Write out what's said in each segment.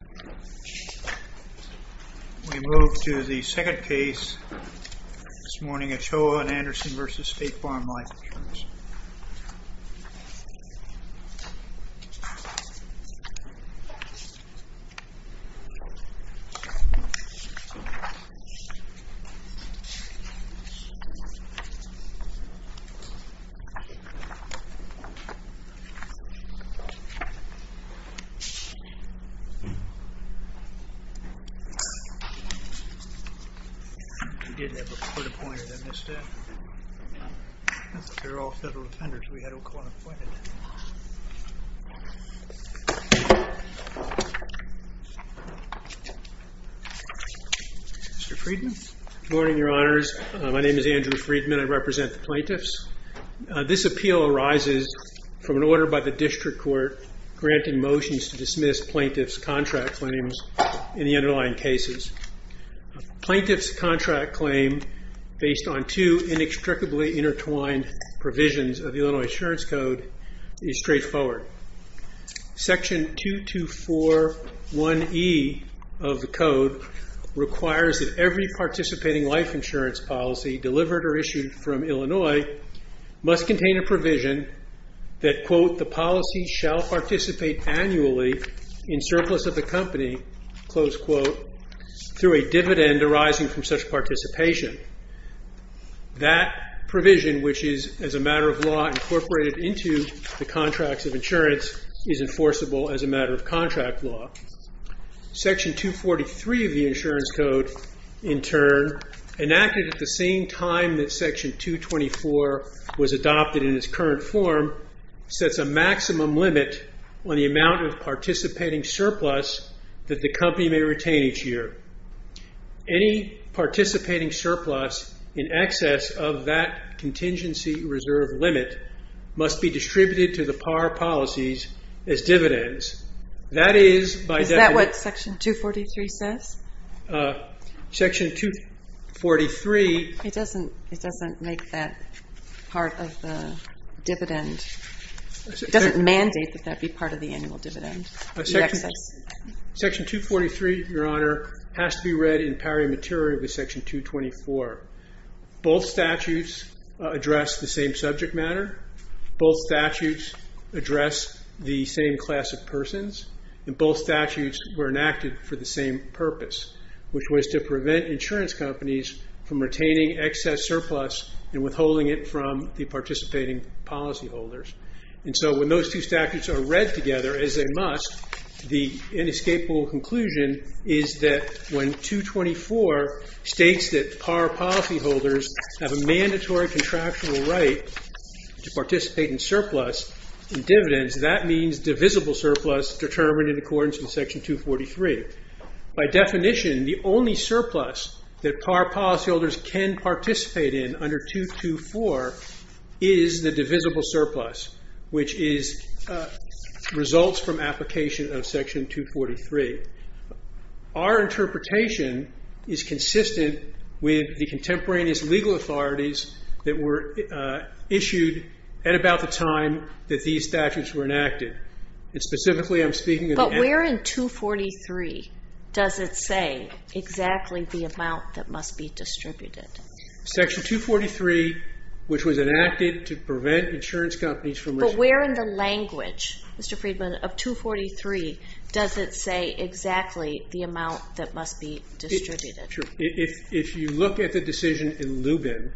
We move to the second case, this morning Ochoa and Anderson v. State Farm Life Insurance. Mr. Friedman. Good morning, your honors. My name is Andrew Friedman. I represent the plaintiffs. This appeal arises from an order by the district court granting motions to dismiss plaintiffs' contracts. Claims in the underlying cases. Plaintiffs' contract claim based on two inextricably intertwined provisions of the Illinois Insurance Code is straightforward. Section 224.1e of the code requires that every participating life insurance policy delivered or issued from Illinois must contain a provision that, quote, is enforceable as a matter of contract law. Section 243 of the insurance code, in turn, enacted at the same time that section 224 was adopted in its current form, sets a maximum limit on the amount of participating surplus that the company may retain each year. Any participating surplus in excess of that contingency reserve limit must be distributed to the par policies as dividends. Is that what section 243 says? Section 243. It doesn't make that part of the dividend. It doesn't mandate that that be part of the annual dividend. Section 243, your honor, has to be read in pari materia with section 224. Both statutes address the same subject matter. Both statutes address the same class of persons. And both statutes were enacted for the same purpose, which was to prevent insurance companies from retaining excess surplus and withholding it from the participating policyholders. And so when those two statutes are read together, as they must, the inescapable conclusion is that when 224 states that par policyholders have a mandatory contractual right to participate in surplus in dividends, that means divisible surplus determined in accordance with section 243. By definition, the only surplus that par policyholders can participate in under 224 is the divisible surplus, which results from application of section 243. Our interpretation is consistent with the contemporaneous legal authorities that were issued at about the time that these statutes were enacted. But where in 243 does it say exactly the amount that must be distributed? Section 243, which was enacted to prevent insurance companies from... But where in the language, Mr. Friedman, of 243 does it say exactly the amount that must be distributed? If you look at the decision in Lubin,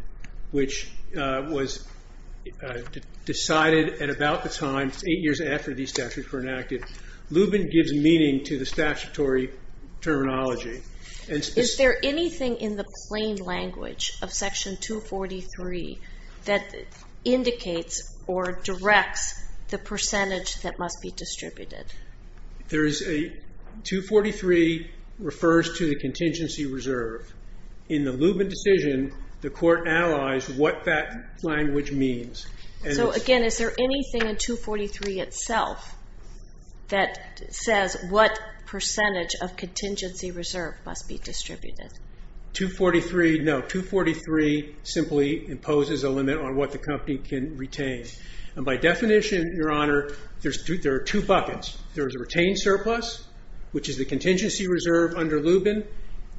which was decided at about the time, eight years after these statutes were enacted, Lubin gives meaning to the statutory terminology. Is there anything in the plain language of section 243 that indicates or directs the percentage that must be distributed? 243 refers to the contingency reserve. In the Lubin decision, the court analyzed what that language means. So again, is there anything in 243 itself that says what percentage of contingency reserve must be distributed? No, 243 simply imposes a limit on what the company can retain. And by definition, Your Honor, there are two buckets. There is a retained surplus, which is the contingency reserve under Lubin,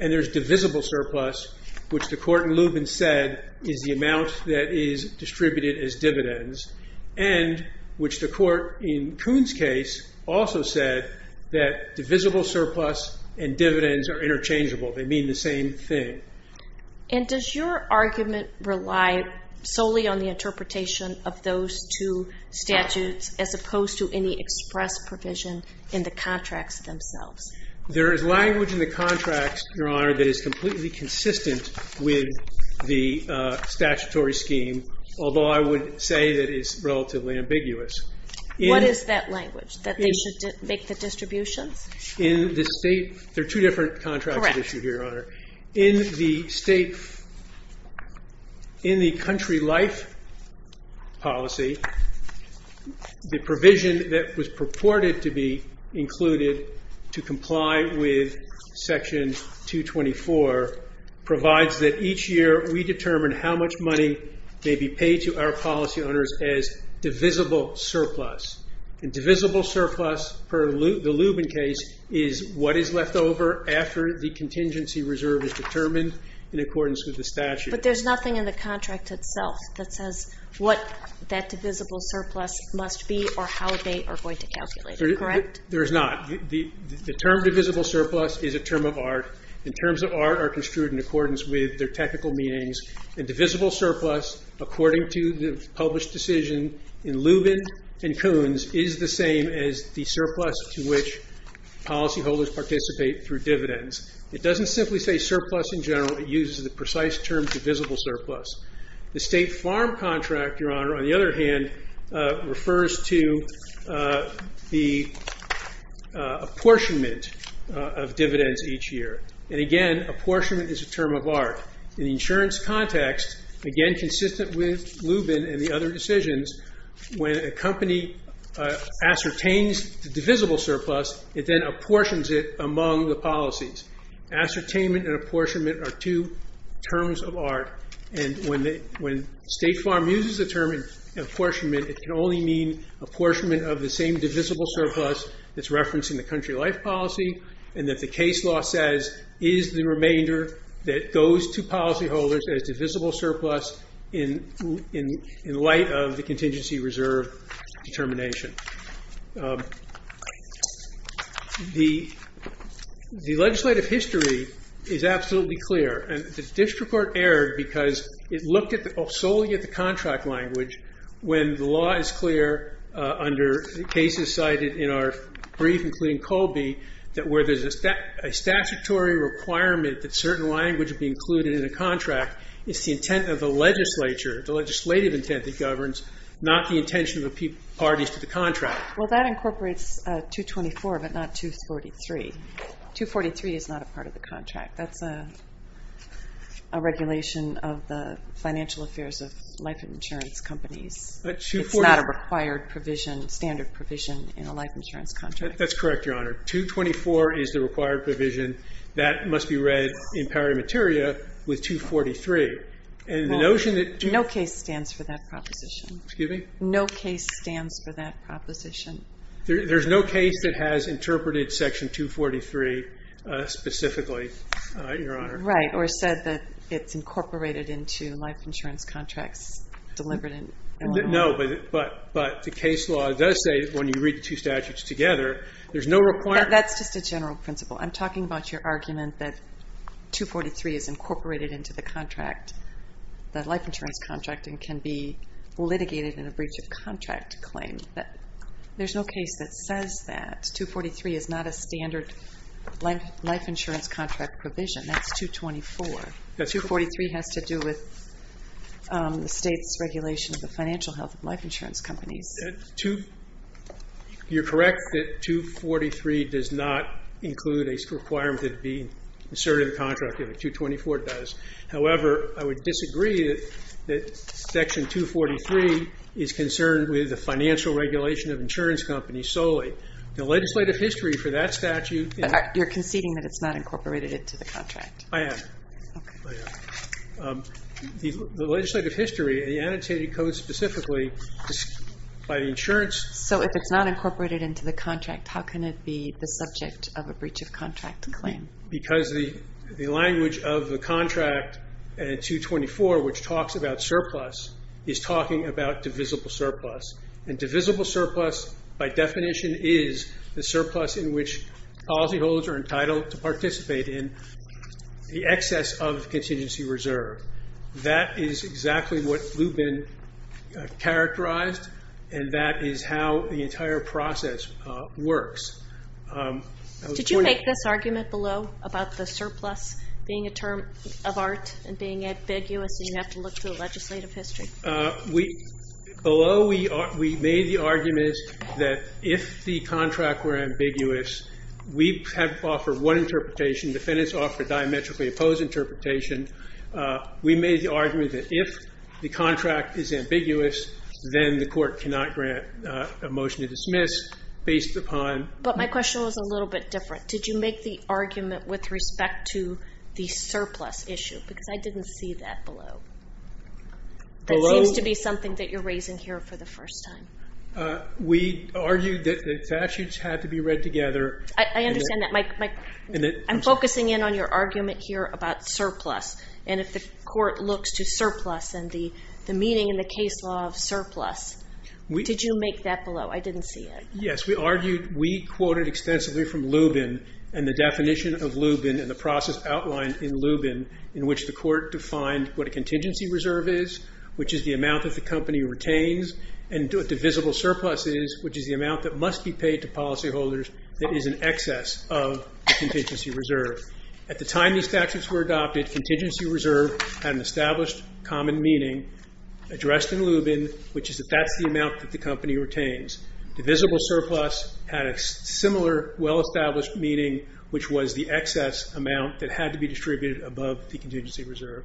and there's divisible surplus, which the court in Lubin said is the amount that is distributed as dividends, and which the court in Kuhn's case also said that divisible surplus and dividends are interchangeable. They mean the same thing. And does your argument rely solely on the interpretation of those two statutes as opposed to any express provision in the contracts themselves? There is language in the contracts, Your Honor, that is completely consistent with the statutory scheme, although I would say that it's relatively ambiguous. What is that language, that they should make the distributions? There are two different contracts at issue here, Your Honor. In the country life policy, the provision that was purported to be included to comply with Section 224 provides that each year we determine how much money may be paid to our policy owners as divisible surplus. And divisible surplus, per the Lubin case, is what is left over after the contingency reserve is determined in accordance with the statute. But there's nothing in the contract itself that says what that divisible surplus must be or how they are going to calculate it, correct? There is not. The term divisible surplus is a term of art. The terms of art are construed in accordance with their technical meanings. And divisible surplus, according to the published decision in Lubin and Coons, is the same as the surplus to which policyholders participate through dividends. It doesn't simply say surplus in general. It uses the precise term divisible surplus. The state farm contract, Your Honor, on the other hand, refers to the apportionment of dividends each year. And again, apportionment is a term of art. In the insurance context, again consistent with Lubin and the other decisions, when a company ascertains the divisible surplus, it then apportions it among the policies. Ascertainment and apportionment are two terms of art. And when state farm uses the term apportionment, it can only mean apportionment of the same divisible surplus that's referenced in the country life policy. And that the case law says is the remainder that goes to policyholders as divisible surplus in light of the contingency reserve determination. The legislative history is absolutely clear. And the district court erred because it looked solely at the contract language when the law is clear under cases cited in our brief, including Colby, that where there's a statutory requirement that certain language be included in a contract, it's the intent of the legislature, the legislative intent that governs, not the intention of the parties to the contract. Well, that incorporates 224, but not 243. 243 is not a part of the contract. That's a regulation of the financial affairs of life insurance companies. It's not a required provision, standard provision, in a life insurance contract. That's correct, Your Honor. 224 is the required provision. That must be read in pari materia with 243. No case stands for that proposition. Excuse me? No case stands for that proposition. There's no case that has interpreted section 243 specifically, Your Honor. Right, or said that it's incorporated into life insurance contracts delivered in Illinois. No, but the case law does say when you read the two statutes together, there's no requirement. That's just a general principle. I'm talking about your argument that 243 is incorporated into the contract, the life insurance contract, and can be litigated in a breach of contract claim. There's no case that says that. 243 is not a standard life insurance contract provision. That's 224. 243 has to do with the state's regulation of the financial health of life insurance companies. You're correct that 243 does not include a requirement that it be inserted in the contract. 224 does. However, I would disagree that section 243 is concerned with the financial regulation of insurance companies solely. The legislative history for that statute is You're conceding that it's not incorporated into the contract. I am. The legislative history, the annotated code specifically, by the insurance So if it's not incorporated into the contract, how can it be the subject of a breach of contract claim? Because the language of the contract in 224, which talks about surplus, is talking about divisible surplus. And divisible surplus, by definition, is the surplus in which policyholders are entitled to participate in the excess of contingency reserve. That is exactly what Lubin characterized, and that is how the entire process works. Did you make this argument below about the surplus being a term of art and being ambiguous and you have to look to the legislative history? Below, we made the argument that if the contract were ambiguous, we have offered one interpretation. Defendants offer diametrically opposed interpretation. We made the argument that if the contract is ambiguous, then the court cannot grant a motion to dismiss based upon But my question was a little bit different. Did you make the argument with respect to the surplus issue? Because I didn't see that below. That seems to be something that you're raising here for the first time. We argued that the statutes had to be read together. I understand that. I'm focusing in on your argument here about surplus. And if the court looks to surplus and the meeting in the case law of surplus, did you make that below? I didn't see it. Yes, we argued. We quoted extensively from Lubin and the definition of Lubin and the process outlined in Lubin in which the court defined what a contingency reserve is, which is the amount that the company retains, and what divisible surplus is, which is the amount that must be paid to policyholders that is in excess of the contingency reserve. At the time these statutes were adopted, contingency reserve had an established common meaning addressed in Lubin, which is that that's the amount that the company retains. Divisible surplus had a similar well-established meaning, which was the excess amount that had to be distributed above the contingency reserve.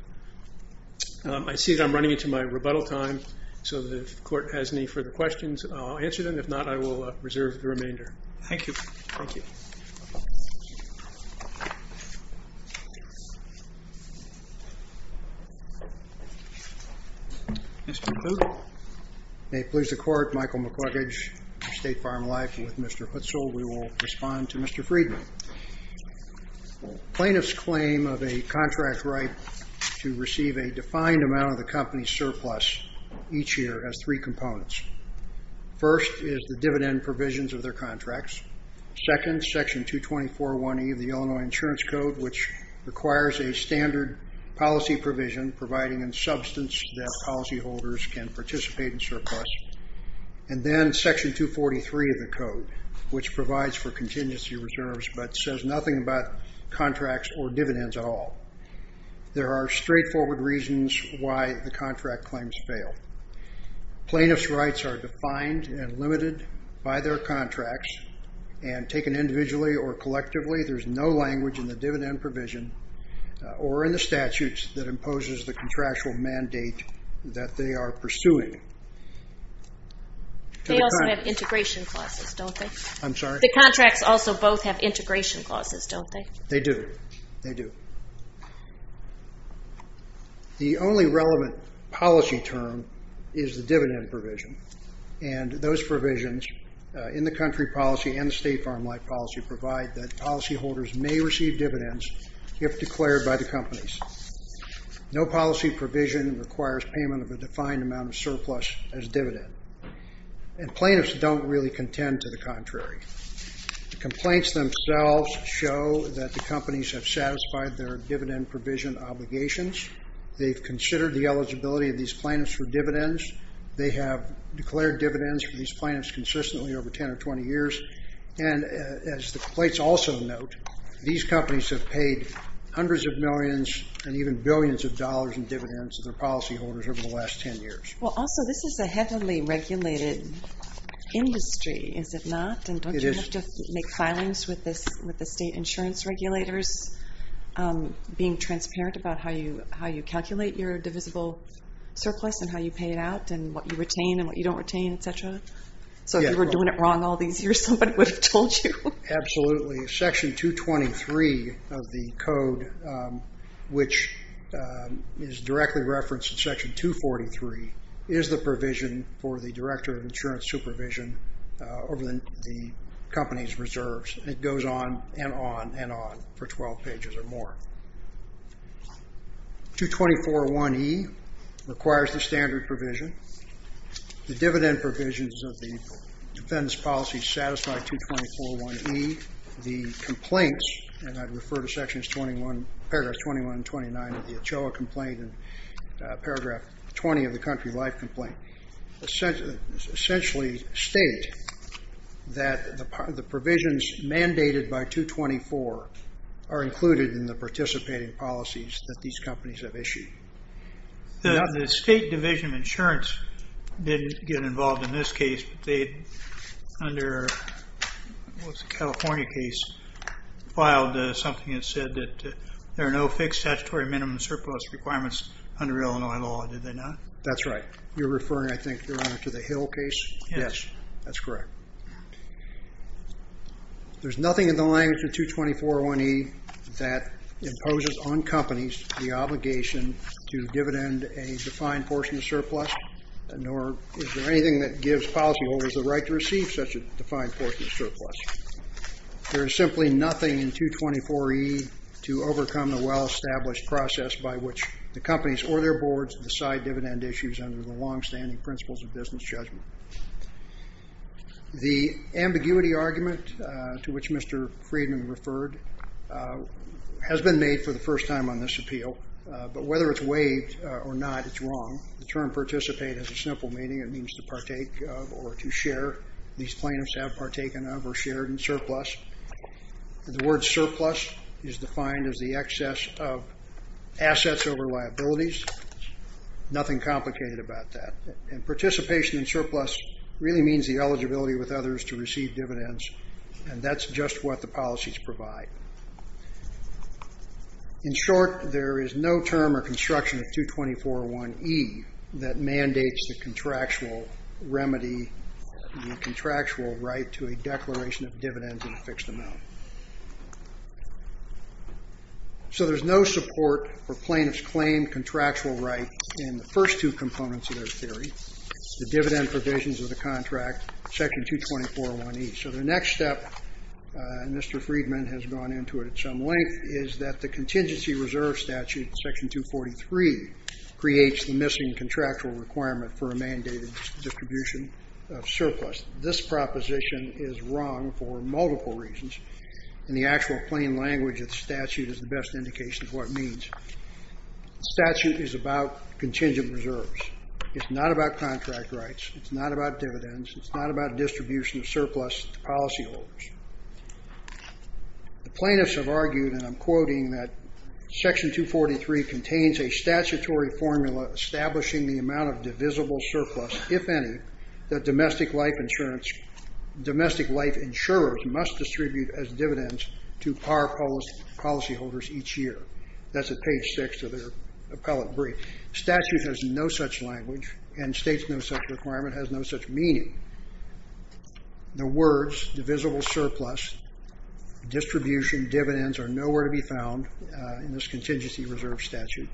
I see that I'm running into my rebuttal time. So if the court has any further questions, I'll answer them. If not, I will reserve the remainder. Thank you. Thank you. Mr. Klug? May it please the court. Michael McLuggage, State Farm Life with Mr. Hutzel. We will respond to Mr. Friedman. Plaintiffs claim of a contract right to receive a defined amount of the company's surplus each year has three components. First is the dividend provisions of their contracts. Second, section 224.1e of the Illinois Insurance Code, which requires a standard policy provision providing in substance that policyholders can participate in surplus. And then section 243 of the code, which provides for contingency reserves but says nothing about contracts or dividends at all. There are straightforward reasons why the contract claims fail. Plaintiffs' rights are defined and limited by their contracts and taken individually or collectively. There's no language in the dividend provision or in the statutes that imposes the contractual mandate that they are pursuing. They also have integration clauses, don't they? I'm sorry? The contracts also both have integration clauses, don't they? They do. They do. The only relevant policy term is the dividend provision. And those provisions in the country policy and the state farm life policy provide that policyholders may receive dividends if declared by the companies. No policy provision requires payment of a defined amount of surplus as dividend. And plaintiffs don't really contend to the contrary. The complaints themselves show that the companies have satisfied their dividend provision obligations. They've considered the eligibility of these plaintiffs for dividends. They have declared dividends for these plaintiffs consistently over 10 or 20 years. And as the complaints also note, these companies have paid hundreds of millions and even billions of dollars in dividends to their policyholders over the last 10 years. Well, also, this is a heavily regulated industry, is it not? It is. And don't you have to make filings with the state insurance regulators being transparent about how you calculate your divisible surplus and how you pay it out and what you retain and what you don't retain, et cetera? So if you were doing it wrong all these years, somebody would have told you. Absolutely. Section 223 of the code, which is directly referenced in Section 243, is the provision for the director of insurance supervision over the company's reserves. And it goes on and on and on for 12 pages or more. 224.1e requires the standard provision. The dividend provisions of the defendant's policy satisfy 224.1e. The complaints, and I'd refer to paragraphs 21 and 29 of the Ochoa complaint and paragraph 20 of the country life complaint, essentially state that the provisions mandated by 224 are included in the participating policies that these companies have issued. The state division of insurance didn't get involved in this case, but they, under the California case, filed something that said that there are no fixed statutory minimum surplus requirements under Illinois law, did they not? That's right. You're referring, I think, to the Hill case? Yes. That's correct. There's nothing in the language of 224.1e that imposes on companies the obligation to dividend a defined portion of surplus, nor is there anything that gives policyholders the right to receive such a defined portion of surplus. There is simply nothing in 224.e to overcome the well-established process by which the companies or their boards decide dividend issues under the longstanding principles of business judgment. The ambiguity argument to which Mr. Friedman referred has been made for the first time on this appeal, but whether it's waived or not, it's wrong. The term participate has a simple meaning. It means to partake of or to share. These plaintiffs have partaken of or shared in surplus. The word surplus is defined as the excess of assets over liabilities. Nothing complicated about that. Participation in surplus really means the eligibility with others to receive dividends, and that's just what the policies provide. In short, there is no term or construction of 224.1e that mandates the contractual remedy, the contractual right to a declaration of dividends in a fixed amount. So there's no support for plaintiffs' claimed contractual right in the first two components of their theory, the dividend provisions of the contract, section 224.1e. So the next step, and Mr. Friedman has gone into it at some length, is that the contingency reserve statute, section 243, creates the missing contractual requirement for a mandated distribution of surplus. This proposition is wrong for multiple reasons, and the actual plain language of the statute is the best indication of what it means. The statute is about contingent reserves. It's not about contract rights. It's not about dividends. It's not about distribution of surplus to policyholders. The plaintiffs have argued, and I'm quoting, that section 243 contains a statutory formula establishing the amount of divisible surplus, if any, that domestic life insurers must distribute as dividends to par policyholders each year. That's at page 6 of their appellate brief. The statute has no such language, and states no such requirement, has no such meaning. The words divisible surplus, distribution, dividends, are nowhere to be found in this contingency reserve statute.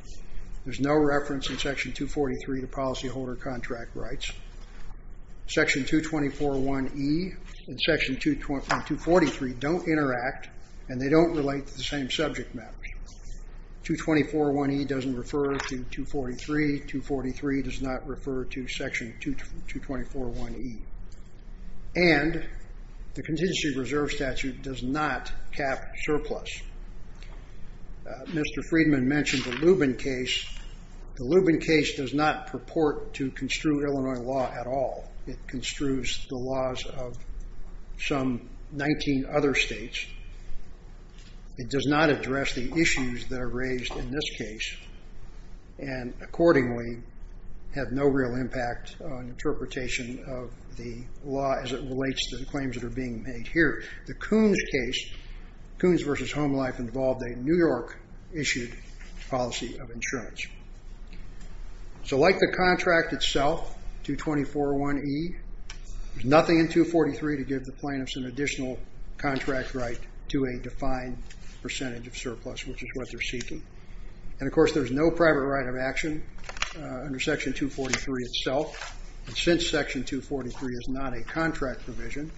There's no reference in section 243 to policyholder contract rights. Section 224.1e and section 243 don't interact, and they don't relate to the same subject matter. 224.1e doesn't refer to 243. 243 does not refer to section 224.1e. And the contingency reserve statute does not cap surplus. Mr. Friedman mentioned the Lubin case. The Lubin case does not purport to construe Illinois law at all. It construes the laws of some 19 other states. It does not address the issues that are raised in this case, and accordingly have no real impact on interpretation of the law as it relates to the claims that are being made here. The Coons case, Coons v. Homelife, involved a New York-issued policy of insurance. So like the contract itself, 224.1e, there's nothing in 243 to give the plaintiffs an additional contract right to a defined percentage of surplus, which is what they're seeking. And, of course, there's no private right of action under section 243 itself. And since section 243 is not a contract provision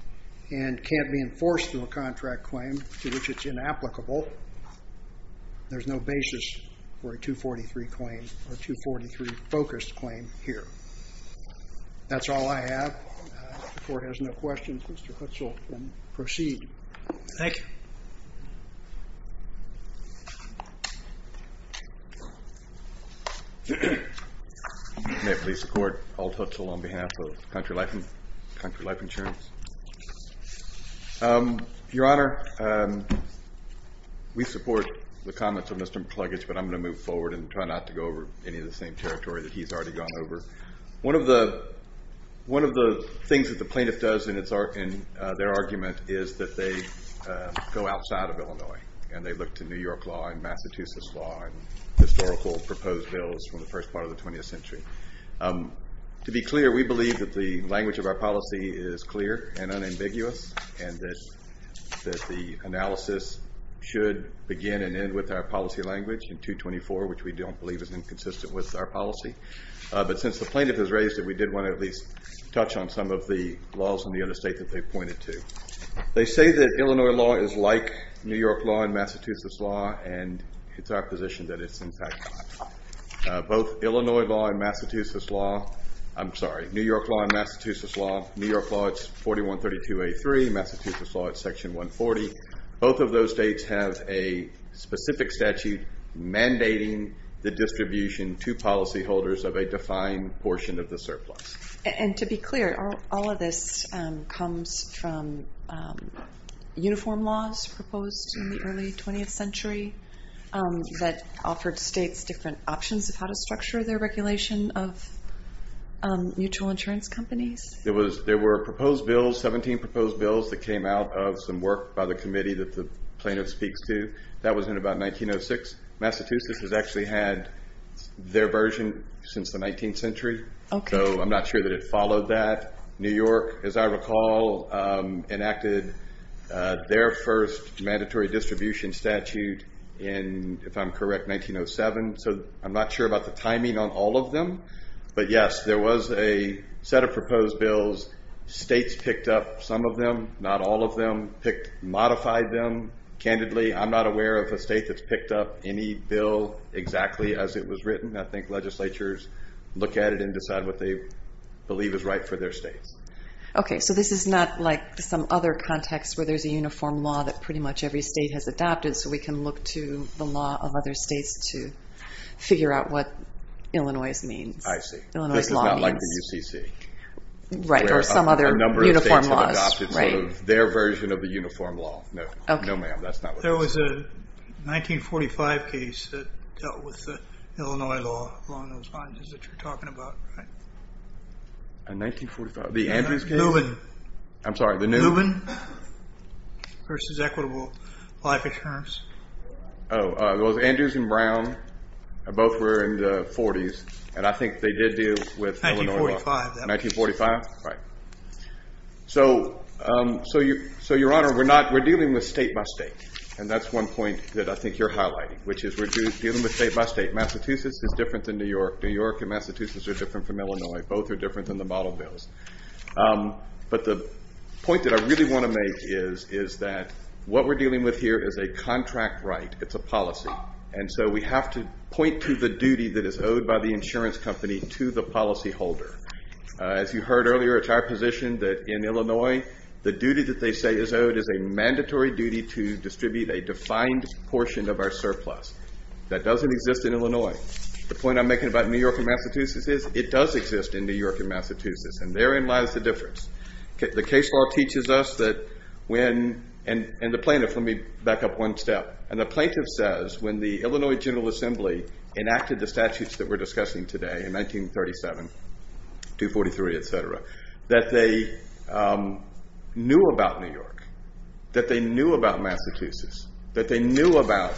and can't be enforced through a contract claim to which it's inapplicable, there's no basis for a 243 claim or a 243-focused claim here. That's all I have. If the Court has no questions, Mr. Hutzel can proceed. Thank you. May it please the Court, Alden Hutzel on behalf of Country Life Insurance. Your Honor, we support the comments of Mr. McCluggage, but I'm going to move forward and try not to go over any of the same territory that he's already gone over. One of the things that the plaintiff does in their argument is that they go outside of Illinois, and they look to New York law and Massachusetts law and historical proposed bills from the first part of the 20th century. To be clear, we believe that the language of our policy is clear and unambiguous and that the analysis should begin and end with our policy language in 224, which we don't believe is inconsistent with our policy. But since the plaintiff has raised it, we did want to at least touch on some of the laws in the other state that they pointed to. They say that Illinois law is like New York law and Massachusetts law, and it's our position that it's in fact not. Both Illinois law and Massachusetts law, I'm sorry, New York law and Massachusetts law, New York law it's 4132A3, Massachusetts law it's section 140. Both of those states have a specific statute mandating the distribution to policyholders of a defined portion of the surplus. And to be clear, all of this comes from uniform laws proposed in the early 20th century that offered states different options of how to structure their regulation of mutual insurance companies? There were proposed bills, 17 proposed bills, that came out of some work by the committee that the plaintiff speaks to. That was in about 1906. Massachusetts has actually had their version since the 19th century. So I'm not sure that it followed that. New York, as I recall, enacted their first mandatory distribution statute in, if I'm correct, 1907. So I'm not sure about the timing on all of them. But yes, there was a set of proposed bills. States picked up some of them, not all of them, picked, modified them candidly. I'm not aware of a state that's picked up any bill exactly as it was written. I think legislatures look at it and decide what they believe is right for their states. Okay, so this is not like some other context where there's a uniform law that pretty much every state has adopted, so we can look to the law of other states to figure out what Illinois means. I see. Illinois law means. This is not like the UCC. Right, or some other uniform laws. Their version of the uniform law. No, ma'am, that's not what it is. There was a 1945 case that dealt with Illinois law along those lines that you're talking about, right? A 1945, the Andrews case? Lubin. I'm sorry, the Lubin? Lubin versus equitable life insurance. Oh, it was Andrews and Brown. Both were in the 40s, and I think they did deal with Illinois law. 1945. 1945, right. So, Your Honor, we're dealing with state by state, and that's one point that I think you're highlighting, which is we're dealing with state by state. Massachusetts is different than New York. New York and Massachusetts are different from Illinois. Both are different than the model bills. But the point that I really want to make is that what we're dealing with here is a contract right. It's a policy, and so we have to point to the duty that is owed by the insurance company to the policyholder. As you heard earlier, it's our position that in Illinois, the duty that they say is owed is a mandatory duty to distribute a defined portion of our surplus. That doesn't exist in Illinois. The point I'm making about New York and Massachusetts is it does exist in New York and Massachusetts, and therein lies the difference. The case law teaches us that when, and the plaintiff, let me back up one step. And the plaintiff says when the Illinois General Assembly enacted the statutes that we're discussing today in 1937, 243, etc., that they knew about New York, that they knew about Massachusetts, that they knew about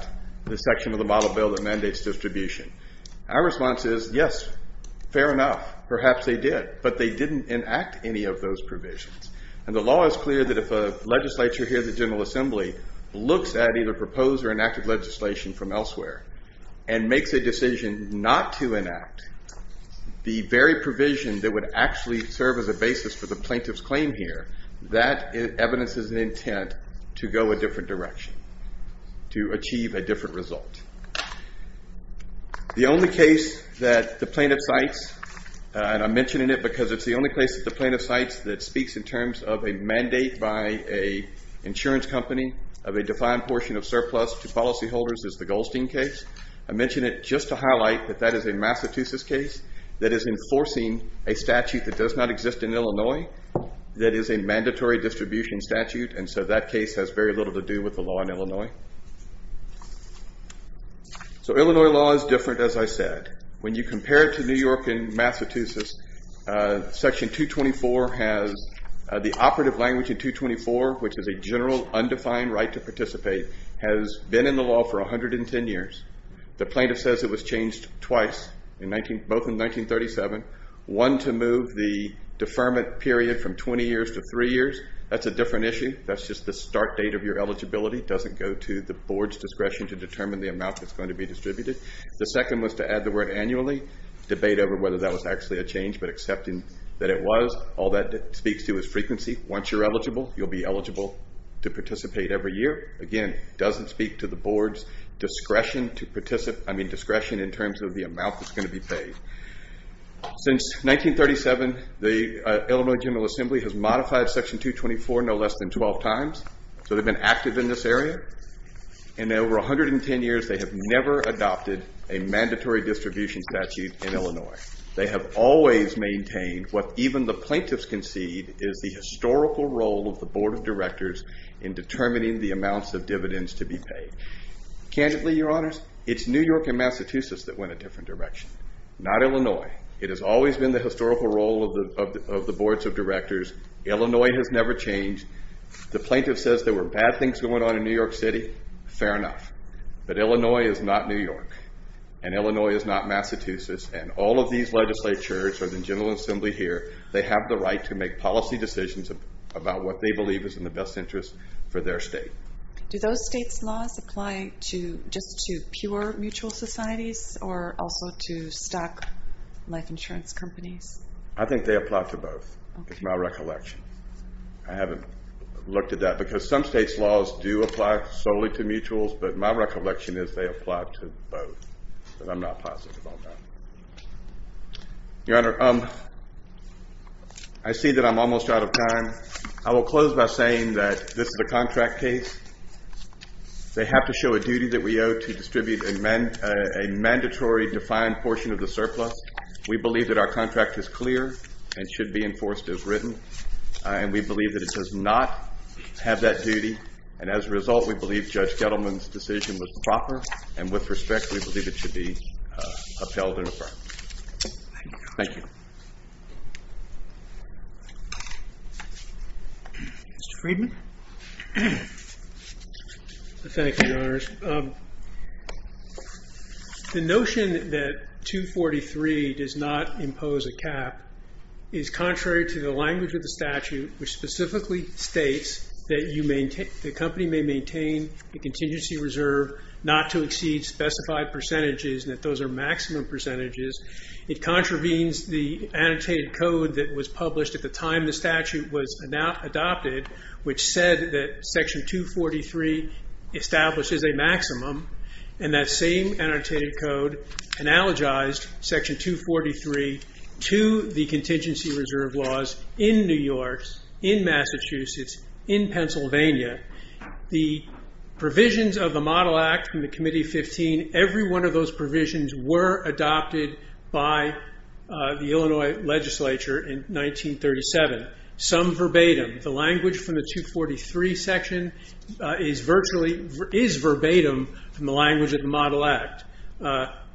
the section of the model bill that mandates distribution. Our response is yes, fair enough. Perhaps they did, but they didn't enact any of those provisions. And the law is clear that if a legislature here, the General Assembly, looks at either proposed or enacted legislation from elsewhere, and makes a decision not to enact the very provision that would actually serve as a basis for the plaintiff's claim here, that evidence is an intent to go a different direction, to achieve a different result. The only case that the plaintiff cites, and I'm mentioning it because it's the only case that the plaintiff cites that speaks in terms of a mandate by a insurance company of a defined portion of surplus to policyholders is the Goldstein case. I mention it just to highlight that that is a Massachusetts case that is enforcing a statute that does not exist in Illinois that is a mandatory distribution statute, and so that case has very little to do with the law in Illinois. So Illinois law is different, as I said. When you compare it to New York and Massachusetts, Section 224 has the operative language in 224, which is a general undefined right to participate, has been in the law for 110 years. The plaintiff says it was changed twice, both in 1937. One to move the deferment period from 20 years to three years. That's a different issue. That's just the start date of your eligibility. It doesn't go to the board's discretion to determine the amount that's going to be distributed. The second was to add the word annually, debate over whether that was actually a change, but accepting that it was. All that speaks to is frequency. Once you're eligible, you'll be eligible to participate every year. Again, doesn't speak to the board's discretion in terms of the amount that's going to be paid. Since 1937, the Illinois General Assembly has modified Section 224 no less than 12 times, so they've been active in this area. In over 110 years, they have never adopted a mandatory distribution statute in Illinois. They have always maintained what even the plaintiffs concede is the historical role of the Board of Directors in determining the amounts of dividends to be paid. Candidly, Your Honors, it's New York and Massachusetts that went a different direction, not Illinois. It has always been the historical role of the Boards of Directors. Illinois has never changed. The plaintiff says there were bad things going on in New York City. Fair enough. But Illinois is not New York, and Illinois is not Massachusetts, and all of these legislatures or the General Assembly here, they have the right to make policy decisions about what they believe is in the best interest for their state. Do those states' laws apply just to pure mutual societies or also to stock life insurance companies? I think they apply to both, is my recollection. I haven't looked at that because some states' laws do apply solely to mutuals, but my recollection is they apply to both, but I'm not positive on that. Your Honor, I see that I'm almost out of time. I will close by saying that this is a contract case. They have to show a duty that we owe to distribute a mandatory defined portion of the surplus. We believe that our contract is clear and should be enforced as written, and we believe that it does not have that duty, and as a result we believe Judge Gettleman's decision was proper, and with respect we believe it should be upheld and affirmed. Thank you. Mr. Friedman? Thank you, Your Honors. The notion that 243 does not impose a cap is contrary to the language of the statute, which specifically states that the company may maintain a contingency reserve not to exceed specified percentages, and that those are maximum percentages. It contravenes the annotated code that was published at the time the statute was adopted, which said that Section 243 establishes a maximum, and that same annotated code analogized Section 243 to the contingency reserve laws in New York, in Massachusetts, in Pennsylvania. The provisions of the Model Act and the Committee 15, every one of those provisions were adopted by the Illinois legislature in 1937. Some verbatim, the language from the 243 section is verbatim from the language of the Model Act.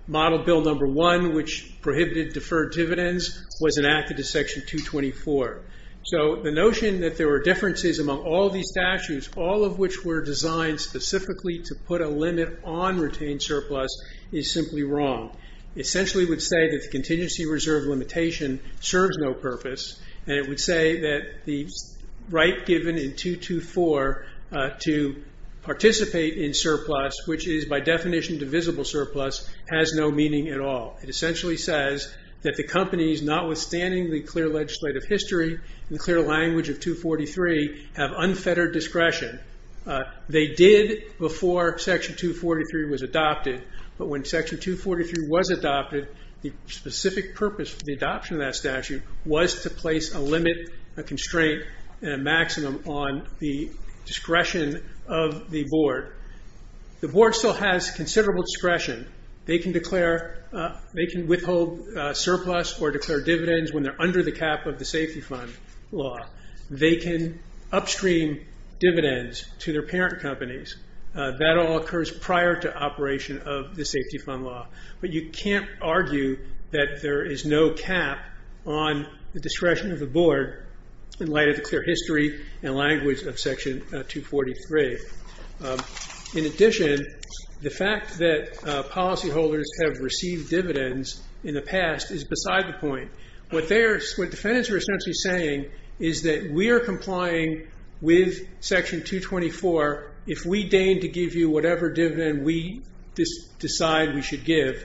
Model Bill No. 1, which prohibited deferred dividends, was enacted in Section 224. So the notion that there were differences among all these statutes, all of which were designed specifically to put a limit on retained surplus, is simply wrong. It essentially would say that the contingency reserve limitation serves no purpose, and it would say that the right given in 224 to participate in surplus, which is by definition divisible surplus, has no meaning at all. It essentially says that the companies, notwithstanding the clear legislative history and clear language of 243, have unfettered discretion. They did before Section 243 was adopted, but when Section 243 was adopted, the specific purpose for the adoption of that statute was to place a limit, a constraint, and a maximum on the discretion of the board. The board still has considerable discretion. They can withhold surplus or declare dividends when they're under the cap of the safety fund law. They can upstream dividends to their parent companies. That all occurs prior to operation of the safety fund law. But you can't argue that there is no cap on the discretion of the board in light of the clear history and language of Section 243. In addition, the fact that policyholders have received dividends in the past is beside the point. What defendants are essentially saying is that we are complying with Section 224 if we deign to give you whatever dividend we decide we should give.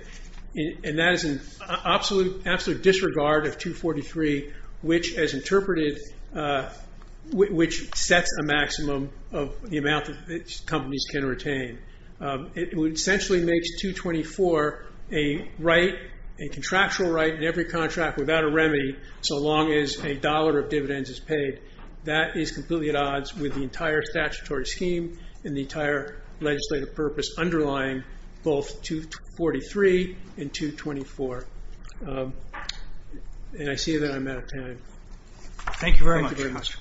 And that is an absolute disregard of 243, which sets a maximum of the amount that companies can retain. It essentially makes 224 a contractual right in every contract without a remedy, so long as a dollar of dividends is paid. That is completely at odds with the entire statutory scheme and the entire legislative purpose underlying both 243 and 224. And I see that I'm out of time. Thank you very much.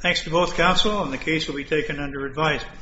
Thanks to both counsel, and the case will be taken under advisement.